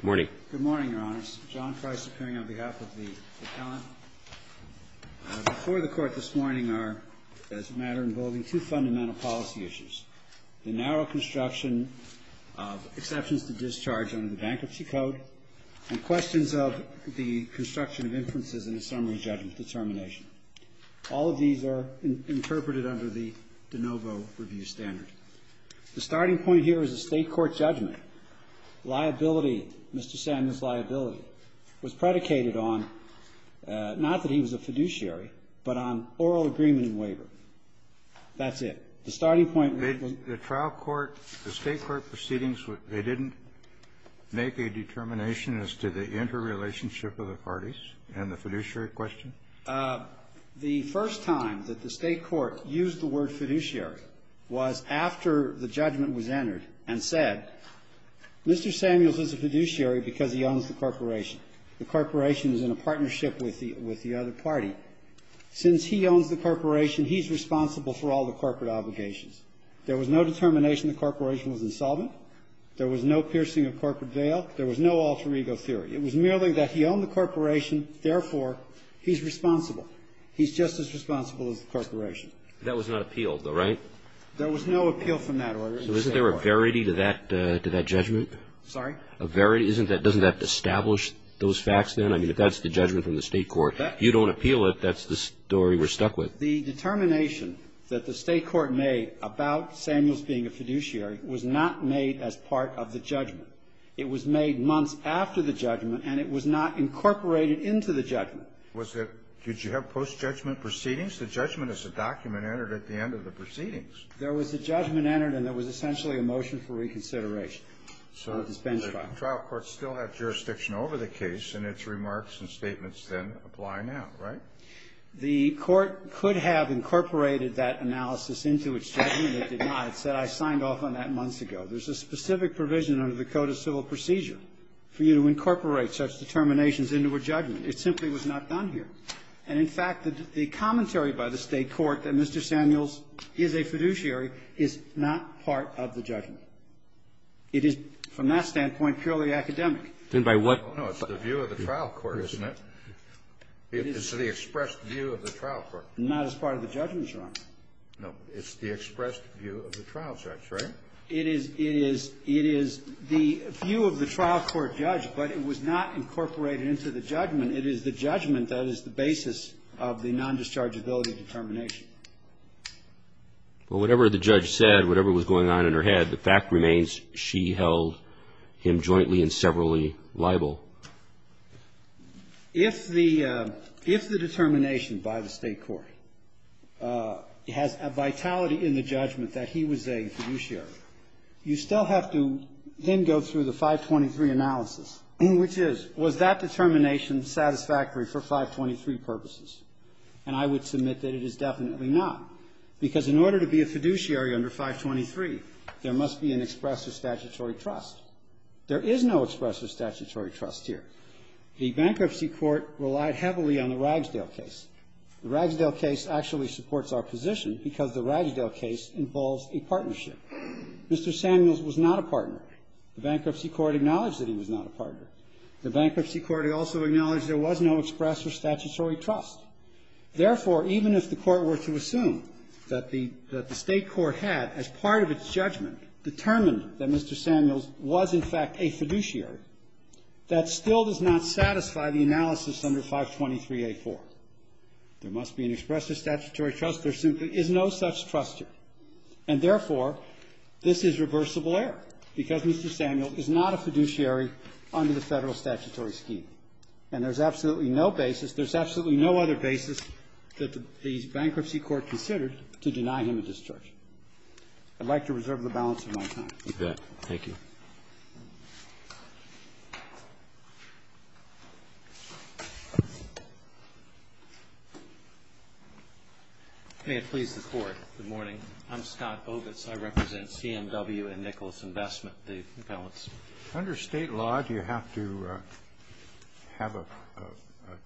Good morning, Your Honors. John Price appearing on behalf of the appellant. Before the Court this morning are, as a matter involving two fundamental policy issues. The narrow construction of exceptions to discharge under the Bankruptcy Code and questions of the construction of inferences in a summary judgment determination. All of these are interpreted under the de novo review standard. The starting point here is a State court judgment. Liability, Mr. Samuel's liability, was predicated on not that he was a fiduciary, but on oral agreement and waiver. That's it. The starting point. The trial court, the State court proceedings, they didn't make a determination as to the interrelationship of the parties and the fiduciary question? The first time that the State court used the word fiduciary was after the judgment was entered and said, Mr. Samuels is a fiduciary because he owns the corporation. The corporation is in a partnership with the other party. Since he owns the corporation, he's responsible for all the corporate obligations. There was no determination the corporation was insolvent. There was no piercing of corporate bail. There was no alter ego theory. It was merely that he owned the corporation, therefore, he's responsible. He's just as responsible as the corporation. That was not appealed, though, right? There was no appeal from that order. So isn't there a verity to that judgment? Sorry? A verity. Isn't that doesn't that establish those facts then? I mean, if that's the judgment from the State court, you don't appeal it, that's the story we're stuck with. The determination that the State court made about Samuels being a fiduciary was not made as part of the judgment. It was made months after the judgment, and it was not incorporated into the judgment. Was it did you have post-judgment proceedings? The judgment is a document entered at the end of the proceedings. There was a judgment entered, and there was essentially a motion for reconsideration of this bench trial. So the trial court still had jurisdiction over the case, and its remarks and statements then apply now, right? The court could have incorporated that analysis into its judgment. It did not. It said, I signed off on that months ago. There's a specific provision under the Code of Civil Procedure for you to incorporate such determinations into a judgment. It simply was not done here. And, in fact, the commentary by the State court that Mr. Samuels is a fiduciary is not part of the judgment. It is, from that standpoint, purely academic. Then by what? No, it's the view of the trial court, isn't it? It's the expressed view of the trial court. Not as part of the judgment, Your Honor. No. It's the expressed view of the trial judge, right? It is the view of the trial court judge, but it was not incorporated into the judgment. It is the judgment that is the basis of the non-dischargeability determination. Well, whatever the judge said, whatever was going on in her head, the fact remains she held him jointly and severally liable. If the determination by the State court has a vitality in the judgment that he was a fiduciary, you still have to then go through the 523 analysis, which is, was that determination satisfactory for 523 purposes? And I would submit that it is definitely not, because in order to be a fiduciary under 523, there must be an expressive statutory trust. There is no expressive statutory trust here. The bankruptcy court relied heavily on the Ragsdale case. The Ragsdale case actually supports our position because the Ragsdale case involves a partnership. Mr. Samuels was not a partner. The bankruptcy court acknowledged that he was not a partner. The bankruptcy court also acknowledged there was no expressive statutory trust. Therefore, even if the court were to assume that the State court had, as part of its judgment, determined that Mr. Samuels was, in fact, a fiduciary, that still does not satisfy the analysis under 523A4. There must be an expressive statutory trust. There simply is no such trust here. And therefore, this is reversible error because Mr. Samuels is not a fiduciary under the Federal statutory scheme. And there's absolutely no basis, there's absolutely no other basis that the bankruptcy court considered to deny him a discharge. I'd like to reserve the balance of my time. You bet. Thank you. May it please the Court. Good morning. I'm Scott Ovitz. I represent CMW and Nicholas Investment, the balance. Under State law, do you have to have a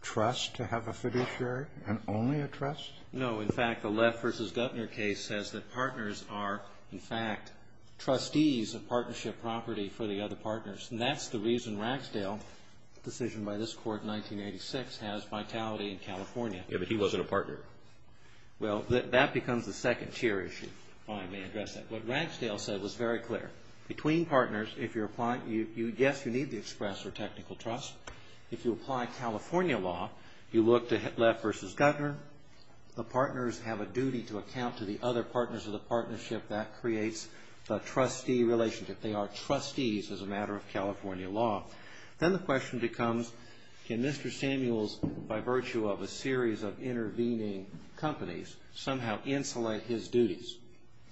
trust to have a fiduciary and only a trust? No. In fact, the Leff v. Guttner case says that partners are, in fact, trustees of partnership property for the other partners. And that's the reason Ragsdale, a decision by this Court in 1986, has vitality in California. Yeah, but he wasn't a partner. Well, that becomes the second tier issue, if I may address that. What Ragsdale said was very clear. Between partners, if you're applying, yes, you need the expressive or technical trust. If you apply California law, you look to Leff v. Guttner. The partners have a duty to account to the other partners of the partnership. That creates the trustee relationship. They are trustees as a matter of California law. Then the question becomes, can Mr. Samuels, by virtue of a series of intervening companies, somehow insulate his duties?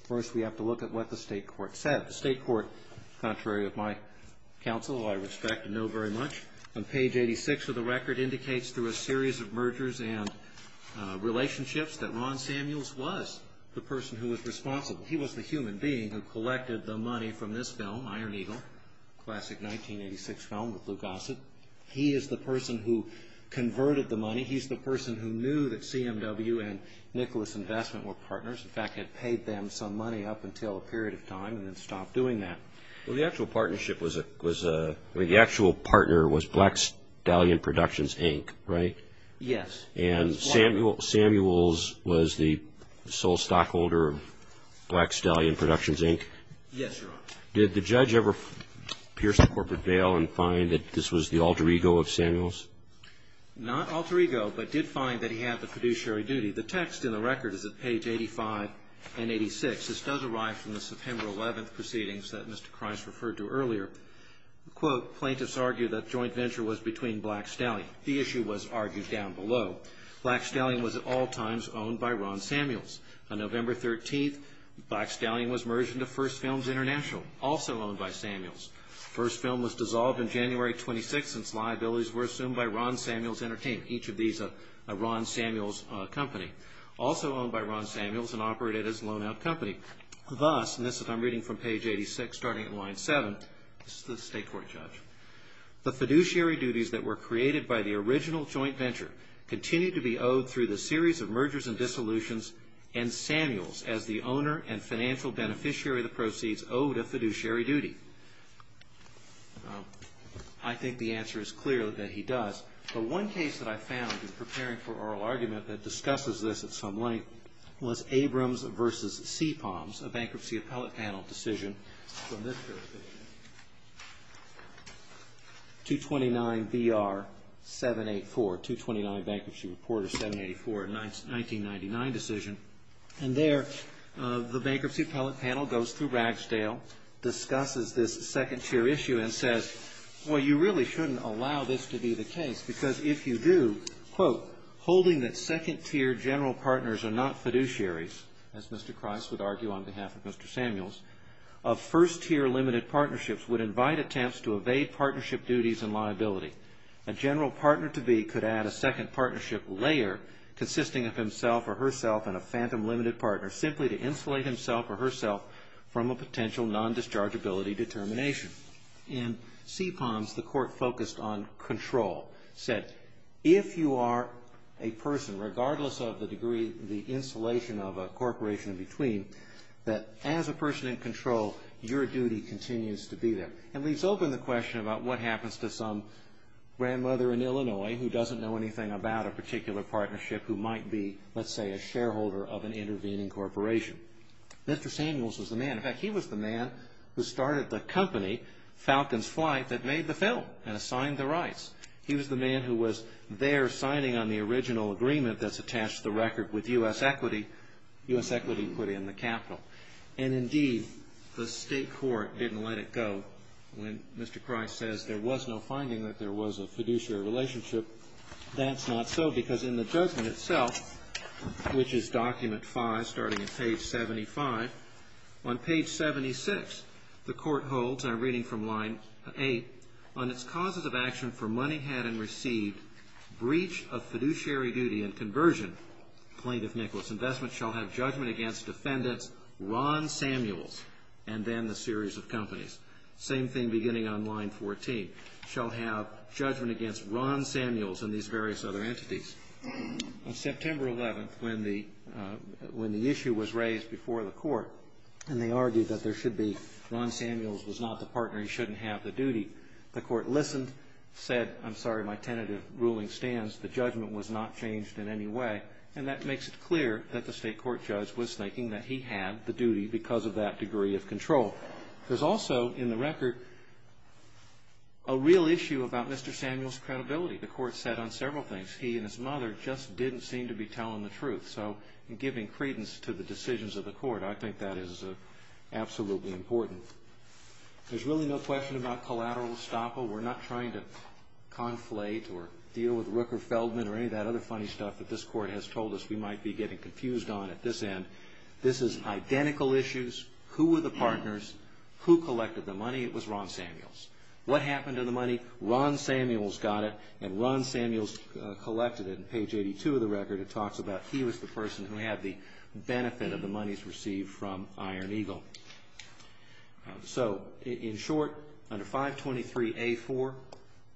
First, we have to look at what the State court said. The State court, contrary to my counsel, I respect and know very much. On page 86 of the record indicates through a series of mergers and relationships that Ron Samuels was the person who was responsible. He was the human being who collected the money from this film, Iron Eagle, classic 1986 film with Luke Gossett. He is the person who converted the money. He's the person who knew that CMW and Nicholas Investment were partners, in fact, had paid them some money up until a period of time and then stopped doing that. Well, the actual partnership was, the actual partner was Black Stallion Productions, Inc., right? Yes. And Samuels was the sole stockholder of Black Stallion Productions, Inc.? Yes, Your Honor. Did the judge ever pierce the corporate veil and find that this was the alter ego of Samuels? Not alter ego, but did find that he had the fiduciary duty. The text in the record is at page 85 and 86. This does arrive from the September 11th proceedings that Mr. Kreiss referred to earlier. Quote, plaintiffs argue that joint venture was between Black Stallion. The issue was argued down below. Black Stallion was at all times owned by Ron Samuels. On November 13th, Black Stallion was merged into First Films International, also owned by Samuels. First Film was dissolved in January 26th since liabilities were assumed by Ron Samuels Entertainment, each of these a Ron Samuels company. Also owned by Ron Samuels and operated as a loan out company. Thus, and this is I'm reading from page 86 starting at line 7, this is the state court judge. The fiduciary duties that were created by the original joint venture continue to be owed through the series of mergers and dissolutions and Samuels as the owner and financial beneficiary of the proceeds owed a fiduciary duty. I think the answer is clear that he does. The one case that I found in preparing for oral argument that discusses this at some length was Abrams versus Seapalms, a bankruptcy appellate panel decision from this period of time, 229 BR 784, 229 Bankruptcy Reporter 784, a 1999 decision. And there the bankruptcy appellate panel goes through Ragsdale, discusses this second tier issue and says, well you really shouldn't allow this to be the case because if you do, quote, holding that second tier general partners are not fiduciaries, as Mr. Christ would argue on behalf of Mr. Samuels, of first tier limited partnerships would invite attempts to evade partnership duties and liability. A general partner to be could add a second partnership layer consisting of himself or herself and a phantom limited partner simply to insulate himself or herself from a potential non-dischargeability determination. In Seapalms, the court focused on control, said if you are a person, regardless of the degree, the insulation of a corporation in between, that as a person in control, your duty continues to be there. And leaves open the question about what happens to some grandmother in Illinois who doesn't know anything about a particular partnership who might be, let's say, a shareholder of an intervening corporation. Mr. Samuels was the man, in fact, he was the man who started the company, Falcon's Flight, that made the film and assigned the rights. He was the man who was there signing on the original agreement that's attached to the record with U.S. Equity, U.S. Equity put in the capital. And indeed, the state court didn't let it go when Mr. Christ says there was no finding that there was a fiduciary relationship. But that's not so, because in the judgment itself, which is document 5, starting at page 75, on page 76, the court holds, and I'm reading from line 8, on its causes of action for money had and received, breach of fiduciary duty and conversion, plaintiff Nicholas, investment shall have judgment against defendants Ron Samuels and then the series of companies. Same thing beginning on line 14, shall have judgment against Ron Samuels and these various other entities. On September 11th, when the issue was raised before the court, and they argued that there should be, Ron Samuels was not the partner, he shouldn't have the duty. The court listened, said, I'm sorry, my tentative ruling stands. The judgment was not changed in any way. And that makes it clear that the state court judge was thinking that he had the duty because of that degree of control. There's also, in the record, a real issue about Mr. Samuels' credibility. The court said on several things, he and his mother just didn't seem to be telling the truth. So, in giving credence to the decisions of the court, I think that is absolutely important. There's really no question about collateral estoppel. We're not trying to conflate or deal with Rooker Feldman or any of that other funny stuff that this court has told us we might be getting confused on at this end. This is identical issues. Who were the partners? Who collected the money? It was Ron Samuels. What happened to the money? Ron Samuels got it, and Ron Samuels collected it. In page 82 of the record, it talks about he was the person who had the benefit of the monies received from Iron Eagle. So, in short, under 523A4,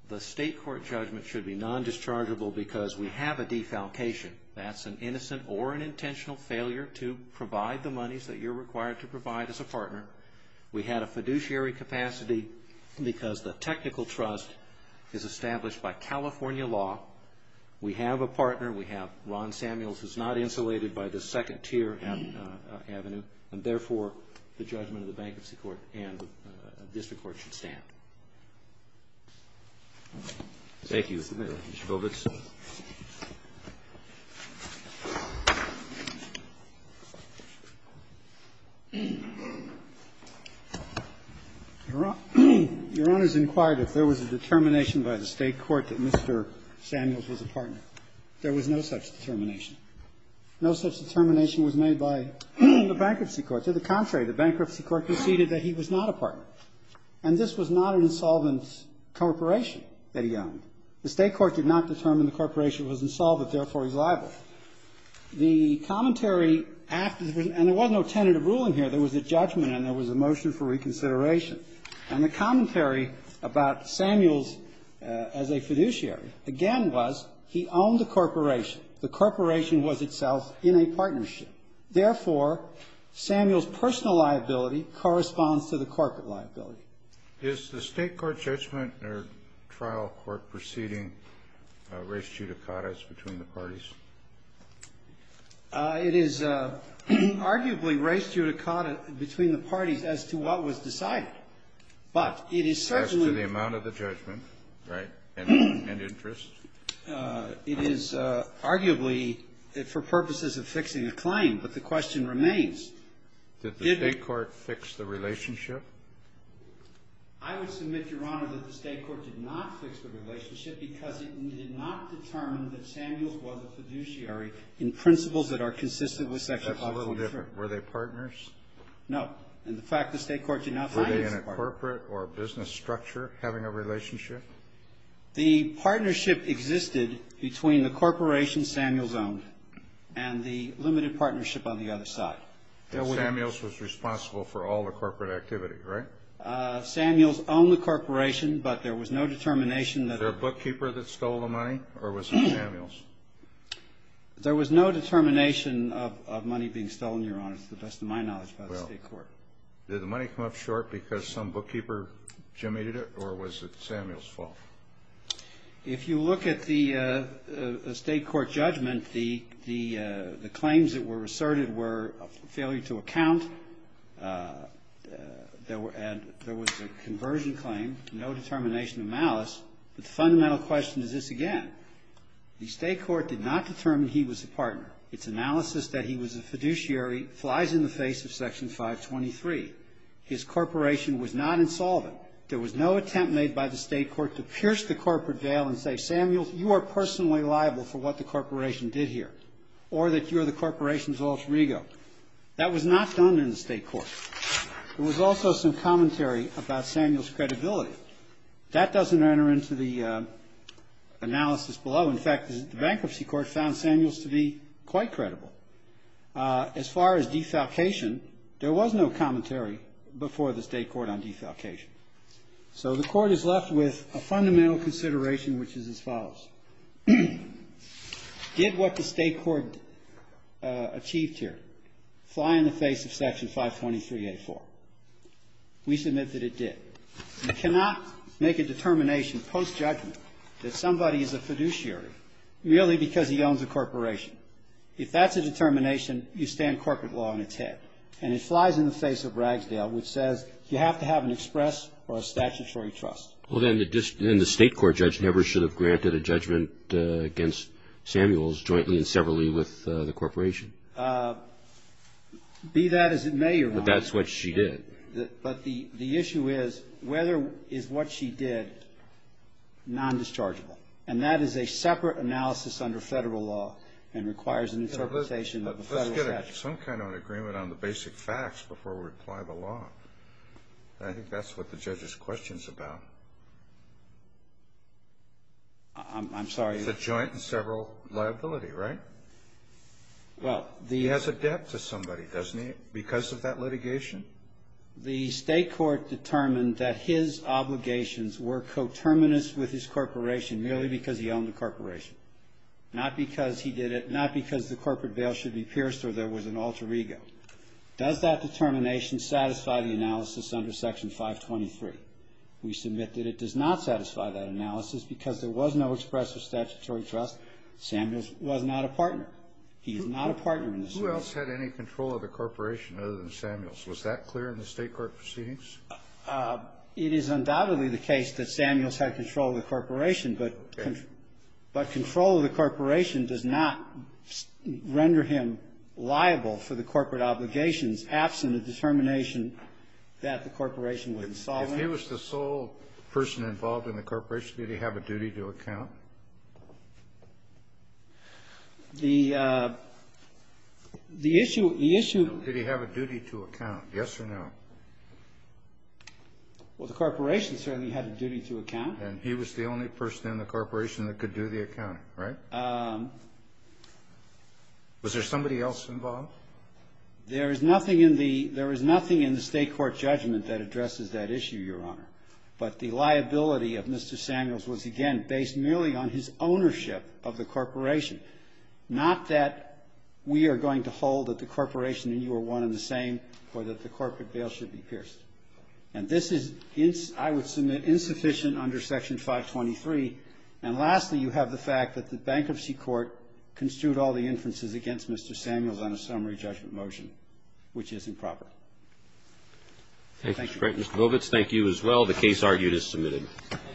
the state court judgment should be non-dischargeable because we have a defalcation. That's an innocent or an intentional failure to provide the monies that you're required to provide as a partner. We had a fiduciary capacity because the technical trust is established by California law. We have a partner. We have Ron Samuels, who's not insulated by the second tier avenue, and therefore, the judgment of the bankruptcy court and district court should stand. Thank you, Mr. Govitz. Your Honor, your Honor's inquired if there was a determination by the state court that Mr. Samuels was a partner. There was no such determination. No such determination was made by the bankruptcy court. To the contrary, the bankruptcy court conceded that he was not a partner, and this was not an insolvent corporation that he owned. The state court did not determine the corporation was insolvent, therefore, he's liable. The commentary after, and there was no tentative ruling here. There was a judgment and there was a motion for reconsideration. And the commentary about Samuels as a fiduciary, again, was he owned the corporation. The corporation was itself in a partnership. Therefore, Samuel's personal liability corresponds to the corporate liability. Is the state court judgment or trial court proceeding race judicata's between the parties? It is arguably race judicata between the parties as to what was decided. But it is certainly. As to the amount of the judgment, right, and interest. It is arguably for purposes of fixing a claim, but the question remains. Did the state court fix the relationship? I would submit, Your Honor, that the state court did not fix the relationship because it did not determine that Samuels was a fiduciary in principles that are consistent with Section 543. That's a little different. Were they partners? No. And the fact the state court did not find him as a partner. Were they in a corporate or business structure having a relationship? The partnership existed between the corporation Samuels owned and the limited partnership on the other side. Samuels was responsible for all the corporate activity, right? Samuels owned the corporation, but there was no determination that. Was there a bookkeeper that stole the money, or was it Samuels? There was no determination of money being stolen, Your Honor, to the best of my knowledge, by the state court. Did the money come up short because some bookkeeper gemated it, or was it Samuels' fault? If you look at the state court judgment, the claims that were asserted were a failure to account, there was a conversion claim, no determination of malice, but the fundamental question is this again. The state court did not determine he was a partner. Its analysis that he was a fiduciary flies in the face of Section 523. His corporation was not insolvent. There was no attempt made by the state court to pierce the corporate veil and say, Samuels, you are personally liable for what the corporation did here, or that you're the corporation's alter ego. That was not done in the state court. There was also some commentary about Samuels' credibility. That doesn't enter into the analysis below. In fact, the bankruptcy court found Samuels to be quite credible. As far as defalcation, there was no commentary before the state court on defalcation. So the court is left with a fundamental consideration, which is as follows. Did what the state court achieved here fly in the face of Section 523A4? We submit that it did. You cannot make a determination post-judgment that somebody is a fiduciary merely because he owns a corporation. If that's a determination, you stand corporate law on its head. And it flies in the face of Ragsdale, which says you have to have an express or a statutory trust. Well, then the state court judge never should have granted a judgment against Samuels jointly and severally with the corporation. Be that as it may, Your Honor. But that's what she did. But the issue is, whether is what she did non-dischargeable? And that is a separate analysis under federal law and requires an interpretation of the federal statute. Let's get some kind of an agreement on the basic facts before we apply the law. I think that's what the judge's question's about. I'm sorry. It's a joint and several liability, right? Well, the- He has a debt to somebody, doesn't he, because of that litigation? The state court determined that his obligations were coterminous with his corporation merely because he owned a corporation. Not because he did it, not because the corporate veil should be pierced or there was an alter ego. Does that determination satisfy the analysis under Section 523? We submit that it does not satisfy that analysis because there was no express or statutory trust. Samuels was not a partner. He is not a partner in this case. Who else had any control of the corporation other than Samuels? Was that clear in the state court proceedings? It is undoubtedly the case that Samuels had control of the corporation, but control of the corporation does not render him liable for the corporate obligations absent the determination that the corporation would insolve him. If he was the sole person involved in the corporation, did he have a duty to account? The issue, the issue- Did he have a duty to account, yes or no? Well, the corporation certainly had a duty to account. And he was the only person in the corporation that could do the accounting, right? Was there somebody else involved? There is nothing in the state court judgment that addresses that issue, Your Honor. But the liability of Mr. Samuels was, again, based merely on his ownership of the corporation. Not that we are going to hold that the corporation and you are one and the same, or that the corporate bail should be pierced. And this is, I would submit, insufficient under Section 523. And lastly, you have the fact that the bankruptcy court construed all the inferences against Mr. Samuels on a summary judgment motion, which is improper. Thank you. Mr. Vovitz, thank you as well. The case argued is submitted.